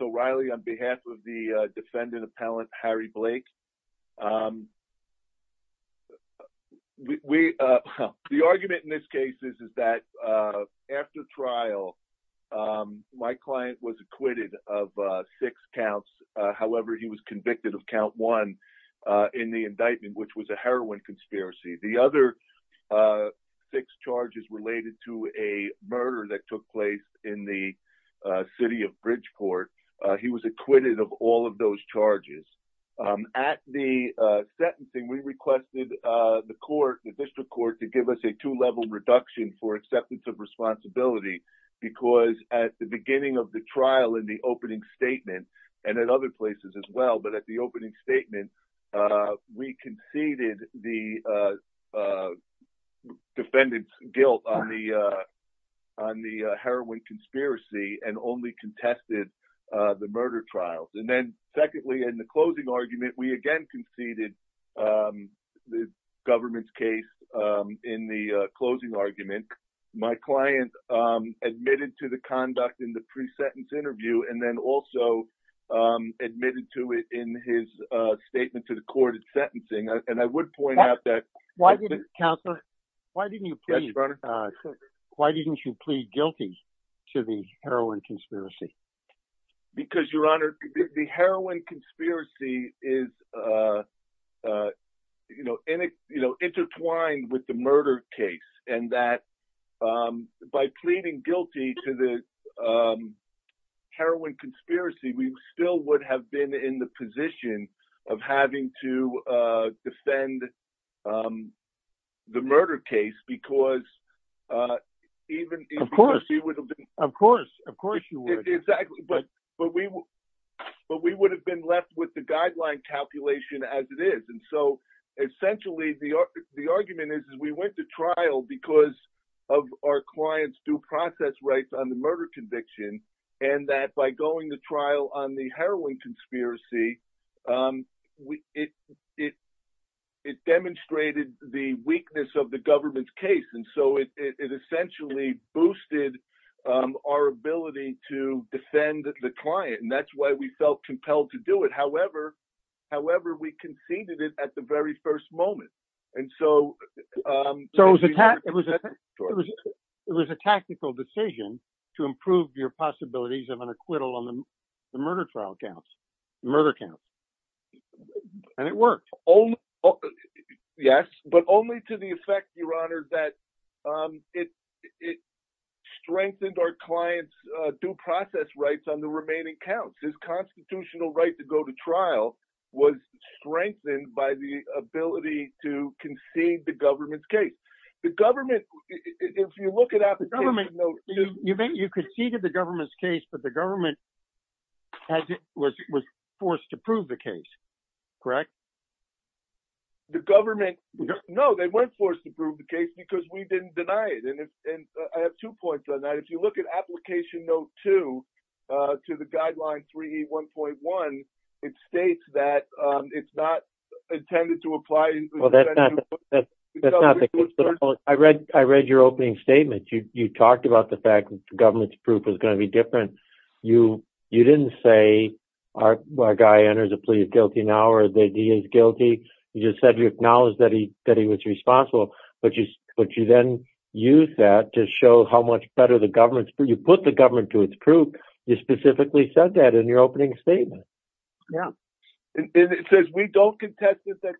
O'Reilly on behalf of the defendant appellant Harry Blake. The argument in this case is that after trial my client was acquitted of six counts, however he was convicted of count one in the indictment which was a heroin conspiracy. The other six charges related to a murder that took place in the city of Bridgeport, he was acquitted of all of those charges. At the sentencing we requested the court, the district court to give us a two-level reduction for acceptance of responsibility because at the beginning of the trial in the opening statement, and at other places as well, but at the opening statement we conceded the defendant's guilt on the heroin conspiracy and only contested the murder trials. And then secondly in the closing argument we again conceded the government's case in the closing argument. My client admitted to the conduct in the pre-sentence interview and then also admitted to it in his statement to the court at sentencing. And I would point out that... Why didn't you plead guilty to the heroin conspiracy? Because your honor, the heroin conspiracy is intertwined with the murder case and that by pleading guilty to the heroin conspiracy we still would have been in the position of having to defend the But we would have been left with the guideline calculation as it is. And so essentially the argument is we went to trial because of our client's due process rights on the murder conviction and that by going to trial on the heroin conspiracy it demonstrated the weakness of the government's case. And so it essentially boosted our ability to defend the client. And that's why we felt compelled to do it. However, we conceded it at the very first moment. And so it was a tactical decision to improve your possibilities of an acquittal on the murder trial counts, the murder counts. And it worked. Yes, but only to the effect your honor that it strengthened our client's due process rights on the remaining counts. His constitutional right to go to trial was strengthened by the ability to concede the government's case. The government, if you look at applications... You conceded the government's case but the government was forced to prove the case, correct? The government, no, they weren't forced to prove the case because we didn't deny it. And I have two points on that. If you look at application note two to the guideline 3E1.1, it states that it's not intended to apply... Well, that's not the case. I read your opening statement. You talked about the fact that the government's proof is going to be different. You didn't say our guy enters the plea is guilty now or that he is guilty. You just said you acknowledge that he was responsible, but you then use that to show how much better the government's... You put the government to its proof. You specifically said that in your opening statement. Yeah. And it says we don't contest that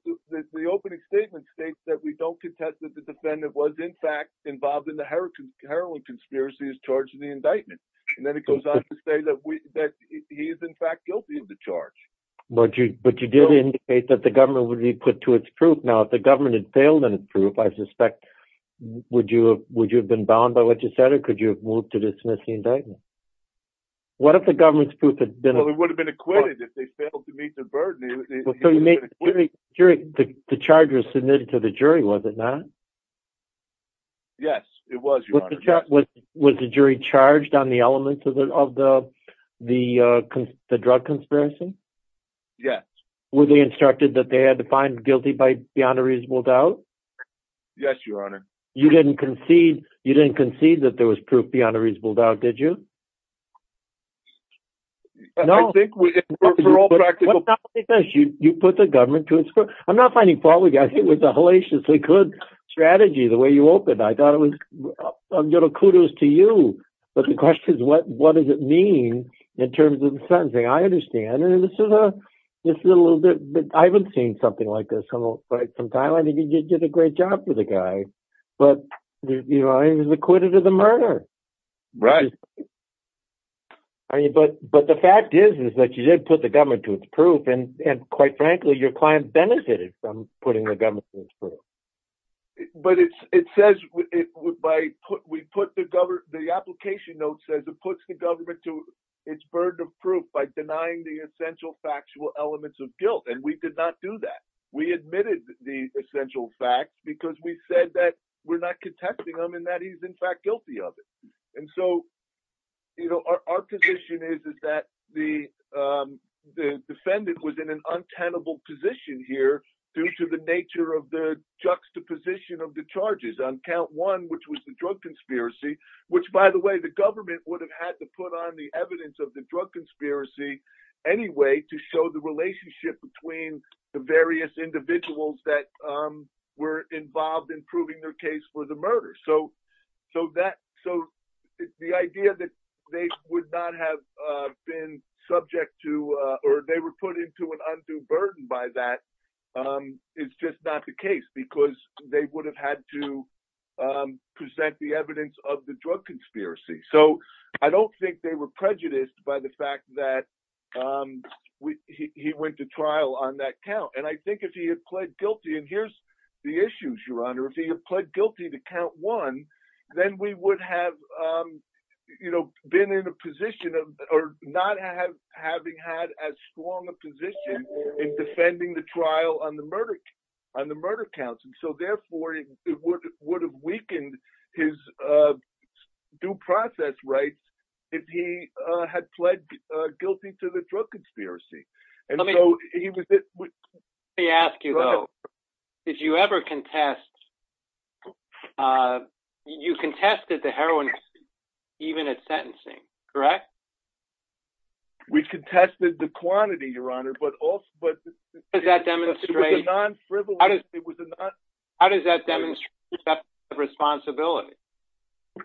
the opening statement states that we don't contest that the defendant was in fact involved in the heroin conspiracy as charged in the indictment. And then it goes on to say that he is in fact guilty of the charge. But you did indicate that the government would be put to its proof. Now, if the government had failed in its proof, I suspect, would you have been bound by what you said or could you have moved to dismiss the indictment? What if the government's proof had been... Well, it would have been acquitted if they failed to meet the burden. The charge was submitted to the jury, was it not? Yes, it was, Your Honor. Was the jury charged on the elements of the drug conspiracy? Yes. Were they instructed that they had to find guilty by beyond a reasonable doubt? Yes, Your Honor. You didn't concede that there was proof beyond a reasonable doubt, did you? No. I think we... You put the government to its proof. I'm not finding fault with you. I think it was a hellaciously good strategy the way you opened. I thought it was... Kudos to you. But the question is, what does it mean in terms of the sentencing? I understand. And this is a little bit... I haven't seen something like this from time. I think you did a great job for the guy. But he was acquitted of the murder. Right. But the fact is, is that you did put the government to its proof. And quite frankly, your client benefited from putting the government to its proof. But it says... The application note says it puts the government to its burden of proof by denying the essential factual elements of guilt. And we did not do that. We admitted the essential facts because we said that we're not contesting them and that he's in fact guilty of it. And so, you know, our position is that the defendant was in an untenable position here due to the nature of the juxtaposition of the charges on count one, which was the drug conspiracy, which by the way, the government would have had to put on the evidence of the drug conspiracy anyway to show the relationship between the various individuals that were involved in proving their case for the murder. So the idea that they would not have been subject to or they were put into an undue burden by that is just not the case because they would have had to present the evidence of the drug conspiracy. So I don't think they were prejudiced by the fact that he went to trial on that count. And I think if he had pled guilty, and here's the issue, Your Honor, if he had pled guilty to count one, then we would have, you know, been in a position of or not have having had as strong a position in defending the trial on the murder, on the murder counts. And so therefore, it would have weakened his due process rights if he had pled guilty to the drug conspiracy. And so he was asked, you know, if you ever contest, you contested the heroin, even at sentencing, correct? We contested the quantity, Your Honor, but also, but does that demonstrate non frivolous? How does that demonstrate responsibility?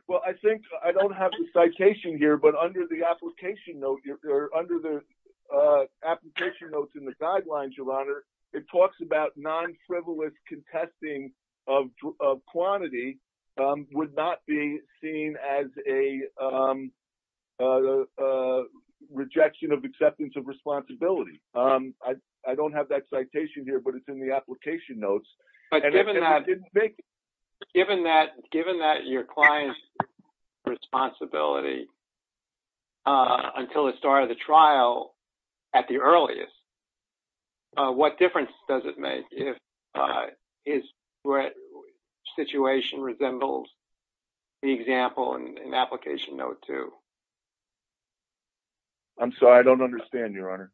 Well, I think I don't have the citation here. But under the application note, under the application notes in the guidelines, Your Honor, it talks about non frivolous contesting of quantity would not be seen as a rejection of acceptance of responsibility. I don't have that citation here, but it's in the application notes. But given that, given that your client's responsibility until the start of the trial, at the earliest, what difference does it make if his situation resembles the example in application note two? I'm sorry, I don't understand, Your Honor.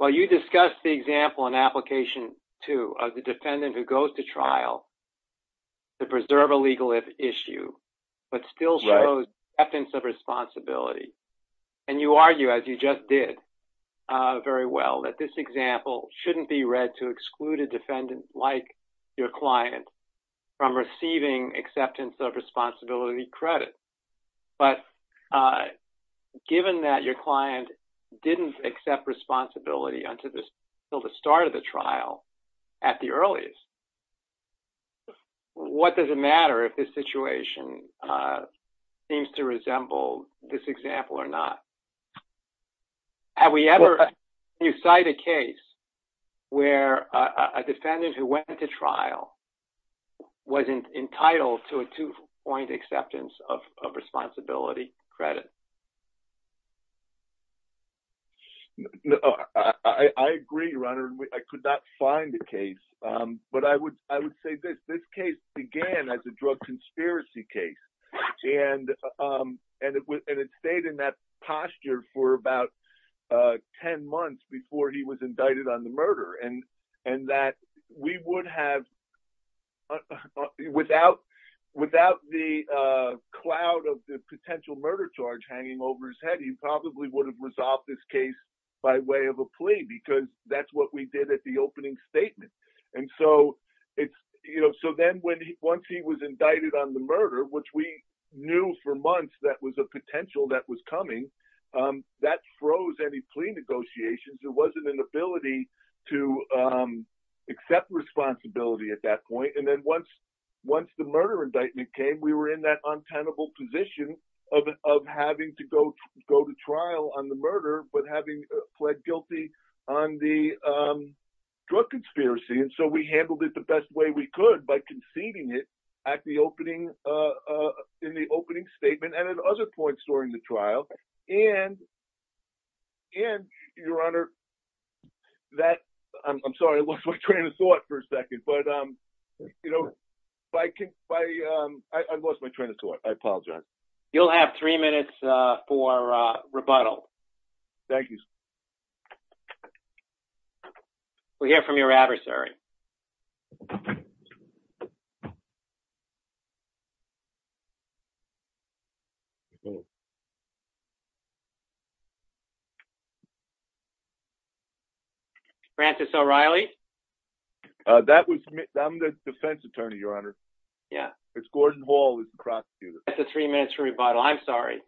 Well, you discussed the example in application two of the defendant who goes to trial to preserve a legal issue, but still shows acceptance of responsibility. And you argue, as you just did very well, that this example shouldn't be read to exclude a defendant like your client from receiving acceptance of responsibility credit. But given that your client didn't accept responsibility until the start of the trial, at the earliest, what does it matter if this situation seems to resemble this example or not? Have we ever, you cite a case where a defendant who went into trial wasn't entitled to a two point acceptance of responsibility credit? No, I agree, Your Honor. I could not find a case. But I would say this. This case began as a drug conspiracy case. And it stayed in that posture for about 10 months before he was indicted on the murder. And that we would have, without the cloud of the potential murder charge hanging over us, he probably would have resolved this case by way of a plea, because that's what we did at the opening statement. And so it's, you know, so then when he once he was indicted on the murder, which we knew for months, that was a potential that was coming, that froze any plea negotiations, there wasn't an ability to accept responsibility at that point. And then once, once the murder indictment came, we were in that untenable position of having to go go to trial on the murder, but having pled guilty on the drug conspiracy. And so we handled it the best way we could by conceding it at the opening, in the opening statement and at other points during the trial. And, and, Your Honor, that, I'm sorry, it looks like Trina saw it for a second. But, you know, I lost my train of thought. I apologize. You'll have three minutes for rebuttal. Thank you. We'll hear from your adversary. Francis O'Reilly. That was, I'm the defense attorney, Your Honor. Yeah, it's Gordon Hall is the prosecutor. That's the three minutes for rebuttal. I'm sorry. It's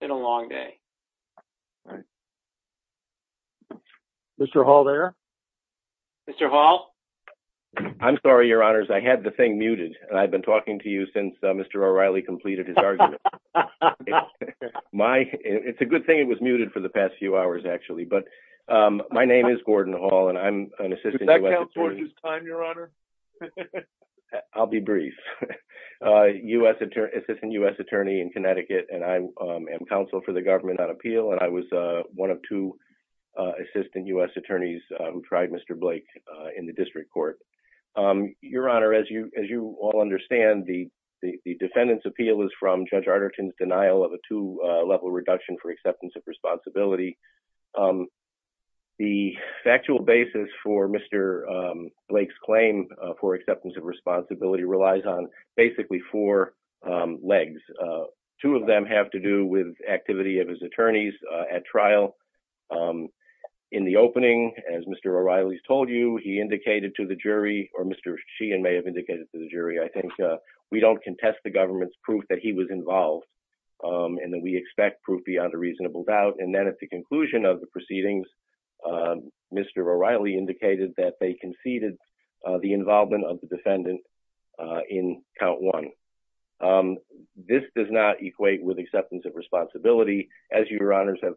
been a long day. Mr. Hall there. Mr. Hall, I'm sorry, I lost my train of thought. Mr. Hall. I'm sorry, Your Honors. I had the thing muted. I've been talking to you since Mr. O'Reilly completed his argument. My, it's a good thing it was muted for the past few hours, actually. But my name is Gordon Hall, and I'm an assistant U.S. attorney. I'll be brief. U.S. attorney, assistant U.S. attorney in Connecticut, and I am counsel for the government on appeal. And I was one of two assistant U.S. attorneys who tried Mr. Blake in the district court. Your Honor, as you all understand, the defendant's appeal is from Judge Arnerton's denial of a two-level reduction for acceptance of responsibility. The factual basis for Mr. Blake's claim for acceptance of responsibility relies on basically four legs. Two of them have to do with activity of his attorneys at trial. In the opening, as Mr. O'Reilly's told you, he indicated to the jury, or Mr. Sheehan may have indicated to the jury, I think, we don't contest the government's proof that he was involved. And then we expect proof beyond a reasonable doubt. And then at the conclusion of the proceedings, Mr. O'Reilly indicated that they conceded the involvement of the defendant in count one. This does not equate with acceptance of responsibility, as your honors have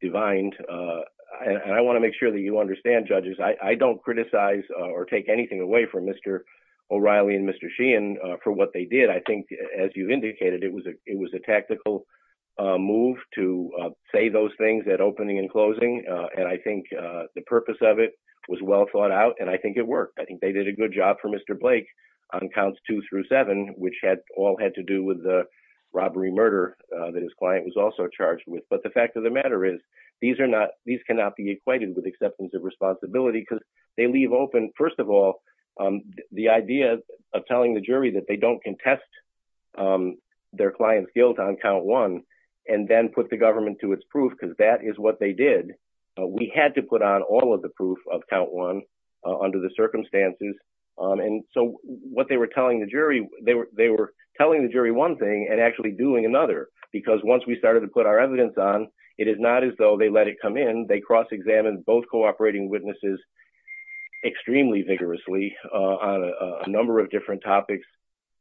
divined. And I want to make sure that you understand, judges, I don't criticize or take anything away from Mr. O'Reilly and Mr. Sheehan for what they did. I think, as you indicated, it was a tactical move to say those things at opening and closing. And I think the purpose of it was well thought out, and I think it worked. I think they did a robbery murder that his client was also charged with. But the fact of the matter is, these are not, these cannot be equated with acceptance of responsibility because they leave open, first of all, the idea of telling the jury that they don't contest their client's guilt on count one, and then put the government to its proof, because that is what they did. We had to put on all of the proof of count one under the and actually doing another, because once we started to put our evidence on, it is not as though they let it come in. They cross-examined both cooperating witnesses extremely vigorously on a number of different topics,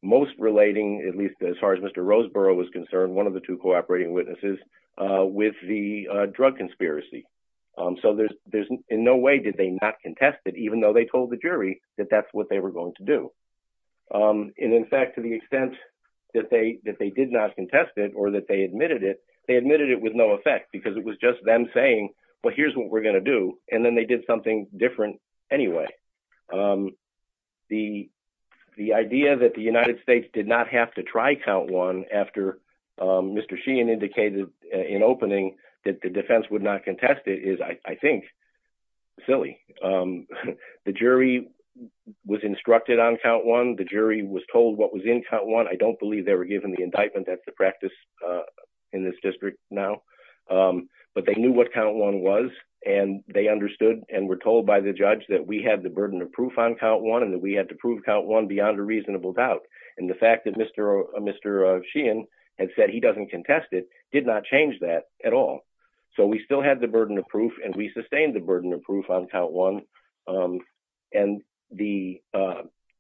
most relating, at least as far as Mr. Roseborough was concerned, one of the two cooperating witnesses, with the drug conspiracy. So there's, in no way did they not contest it, even though they told the jury that that's what they were going to do. And in fact, to the extent that they did not contest it, or that they admitted it, they admitted it with no effect, because it was just them saying, well, here's what we're going to do, and then they did something different anyway. The idea that the United States did not have to try count one after Mr. Sheehan indicated in opening that the defense would not instruct it on count one. The jury was told what was in count one. I don't believe they were given the indictment. That's the practice in this district now. But they knew what count one was, and they understood and were told by the judge that we had the burden of proof on count one, and that we had to prove count one beyond a reasonable doubt. And the fact that Mr. Sheehan had said he doesn't contest it did not change that at all. So we still had the burden of proof, and we sustained the burden of proof on count one. And the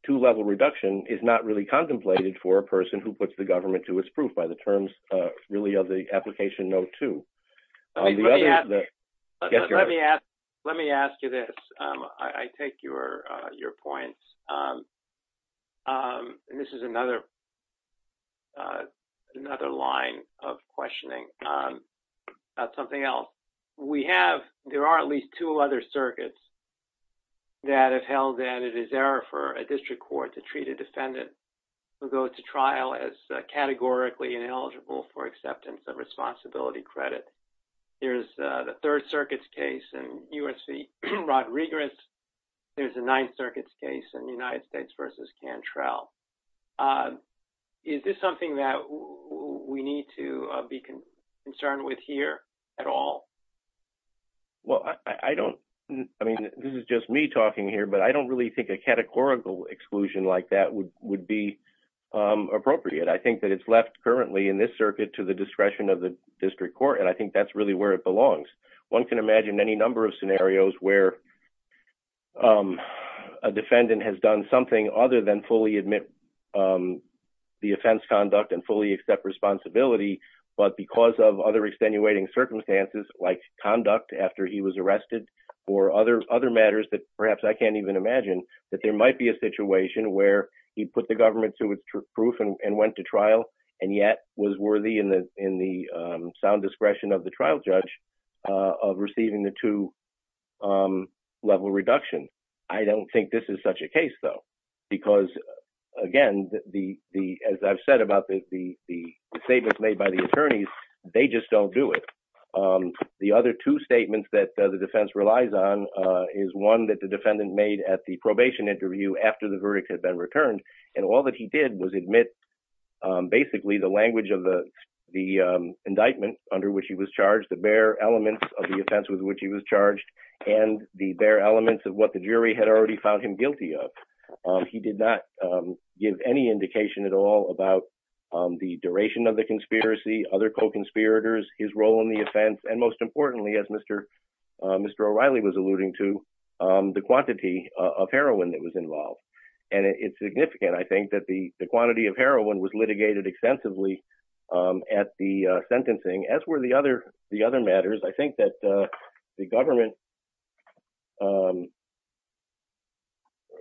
two-level reduction is not really contemplated for a person who puts the government to its proof by the terms really of the application note two. Let me ask you this. I take your points. And this is another line of questioning. That's something else. We have, there are at least two other circuits that have held that it is error for a district court to treat a defendant who goes to trial as categorically ineligible for acceptance of responsibility credit. Here's the Third Circuit's case in U.S.C. Rod Regarest. There's a Ninth Circuit's case in the United States versus Cantrell. Is this something that we need to be concerned with here at all? Well, I don't, I mean, this is just me talking here, but I don't really think a categorical exclusion like that would be appropriate. I think that it's left currently in this circuit to the discretion of the district court, and I think that's really where it belongs. One can imagine any number of scenarios where a defendant has done something other than fully admit the offense conduct and fully accept responsibility, but because of other extenuating circumstances like conduct after he was arrested or other matters that perhaps I can't even imagine that there might be a situation where he put the government to its proof and went to trial and yet was worthy in the sound discretion of the trial judge of receiving the two-level reduction. I don't think this is such a case, though, because, again, as I've said about the statements made by the attorneys, they just don't do it. The other two statements that the defense relies on is one that the defendant made at the probation interview after the verdict had been returned, and all that he did was admit basically the language of the indictment under which he was of what the jury had already found him guilty of. He did not give any indication at all about the duration of the conspiracy, other co-conspirators, his role in the offense, and most importantly, as Mr. O'Reilly was alluding to, the quantity of heroin that was involved, and it's significant, I think, that the quantity of heroin was litigated extensively at the sentencing, as were the other matters. I think that the government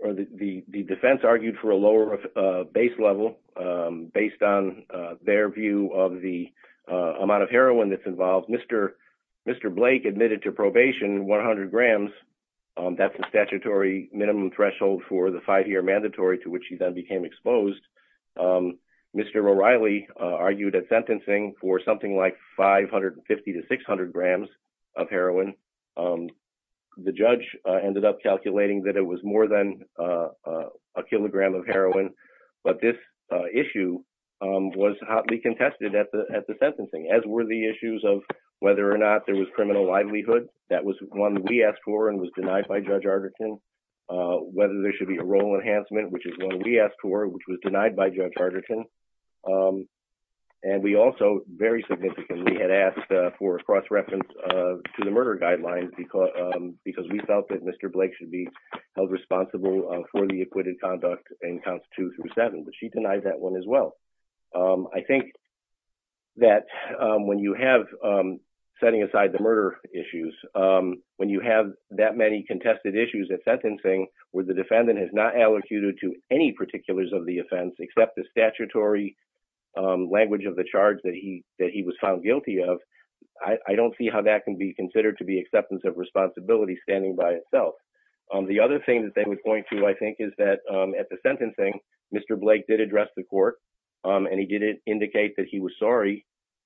or the defense argued for a lower base level based on their view of the amount of heroin that's involved. Mr. Blake admitted to probation 100 grams. That's the statutory minimum threshold for the five-year mandatory to which he then became exposed. Mr. O'Reilly argued at sentencing for something like 550 to 600 grams of heroin. The judge ended up calculating that it was more than a kilogram of heroin, but this issue was hotly contested at the sentencing, as were the issues of whether or not there was criminal livelihood. That was one we asked for and was denied by Judge Arderton. Whether there should be a role enhancement, which is one we asked for, which was denied by Judge Arderton. We also very significantly had asked for a cross-reference to the murder guidelines because we felt that Mr. Blake should be held responsible for the acquitted conduct in counts two through seven, but she denied that one as well. I think that when you have, setting aside the murder issues, when you have that many contested of the offense, except the statutory language of the charge that he was found guilty of, I don't see how that can be considered to be acceptance of responsibility standing by itself. The other thing that they would point to, I think, is that at the sentencing, Mr. Blake did address the court, and he did indicate that he was sorry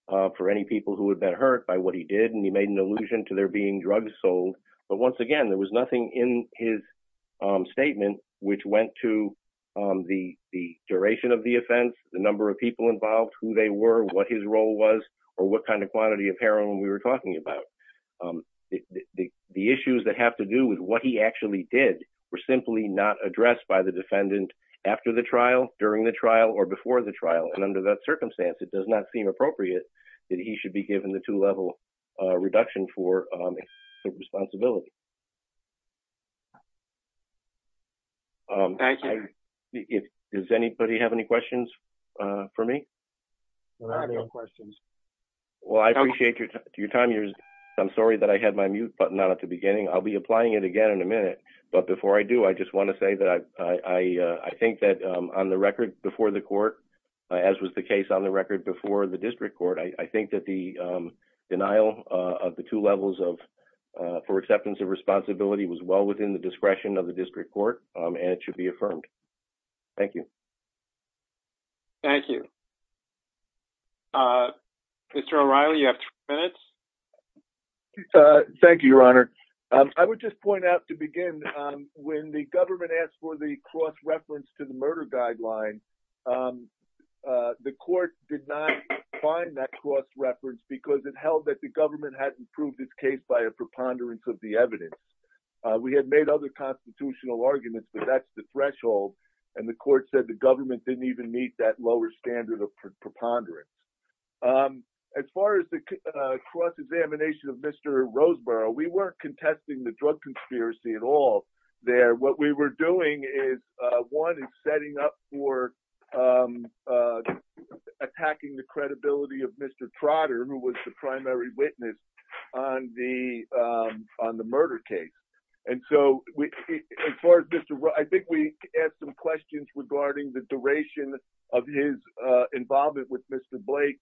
for any people who had been hurt by what he did, and he made an allusion to there being drugs sold. But once again, there was nothing in his statement which went to the duration of the offense, the number of people involved, who they were, what his role was, or what kind of quantity of heroin we were talking about. The issues that have to do with what he actually did were simply not addressed by the defendant after the trial, during the trial, or before the trial. Under that circumstance, it does not seem appropriate that he should be given the two-level reduction for acceptance of responsibility. Does anybody have any questions for me? I have no questions. Well, I appreciate your time. I'm sorry that I had my mute button on at the beginning. I'll be applying it again in a minute, but before I do, I just want to say that I think that, on the record, before the court, as was the case on the record before the district court, I think that the denial of the two levels for acceptance of responsibility was well within the discretion of the district court, and it should be affirmed. Thank you. Thank you. Mr. O'Reilly, you have three minutes. Thank you, Your Honor. I would just point out to begin, when the government asked for the cross reference because it held that the government hadn't proved its case by a preponderance of the evidence. We had made other constitutional arguments, but that's the threshold, and the court said the government didn't even meet that lower standard of preponderance. As far as the cross examination of Mr. Roseborough, we weren't contesting the drug conspiracy at all there. What we were doing is, one, is setting up for attacking the credibility of Mr. Trotter, who was the primary witness on the murder case. I think we asked some questions regarding the duration of his involvement with Mr. Blake,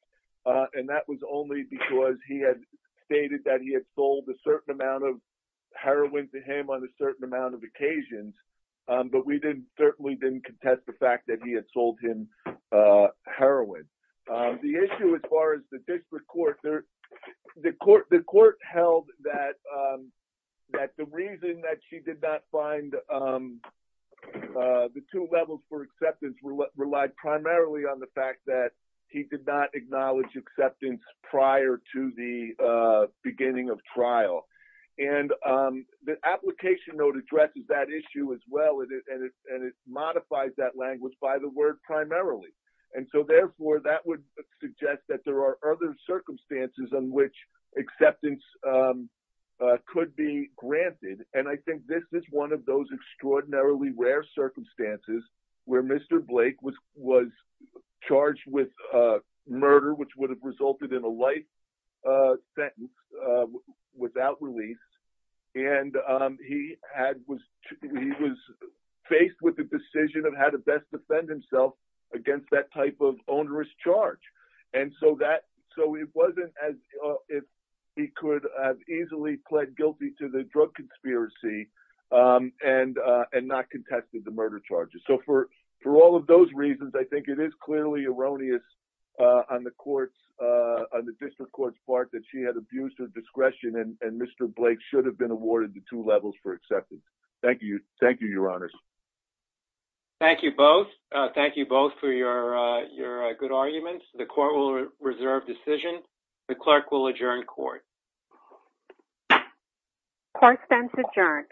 and that was only because he had stated that he had sold a certain amount of heroin to him on a certain amount of occasions, but we certainly didn't contest the fact that he had sold him heroin. The issue as far as the district court, the court held that the reason that she did not find the two levels for acceptance relied primarily on the fact that he did not acknowledge acceptance prior to the beginning of trial. The application note addresses that issue as well, and it modifies that language by the word primarily. Therefore, that would suggest that there are other circumstances in which acceptance could be granted, and I think this is one of those extraordinarily rare circumstances where Mr. Blake was charged with murder, which would have resulted in a life sentence without release, and he was faced with the decision of how to best defend himself against that type of onerous charge. So, it wasn't as if he could have easily pled guilty to the drug conspiracy and not contested the murder charges. So, for all of those reasons, I think it is clearly erroneous on the district court's part that she had abused her discretion, and Mr. Blake should have been awarded the two levels for acceptance. Thank you. Thank you, Your Honors. Thank you both. Thank you both for your good arguments. The court will reserve decision. The clerk will adjourn court. Court stands adjourned.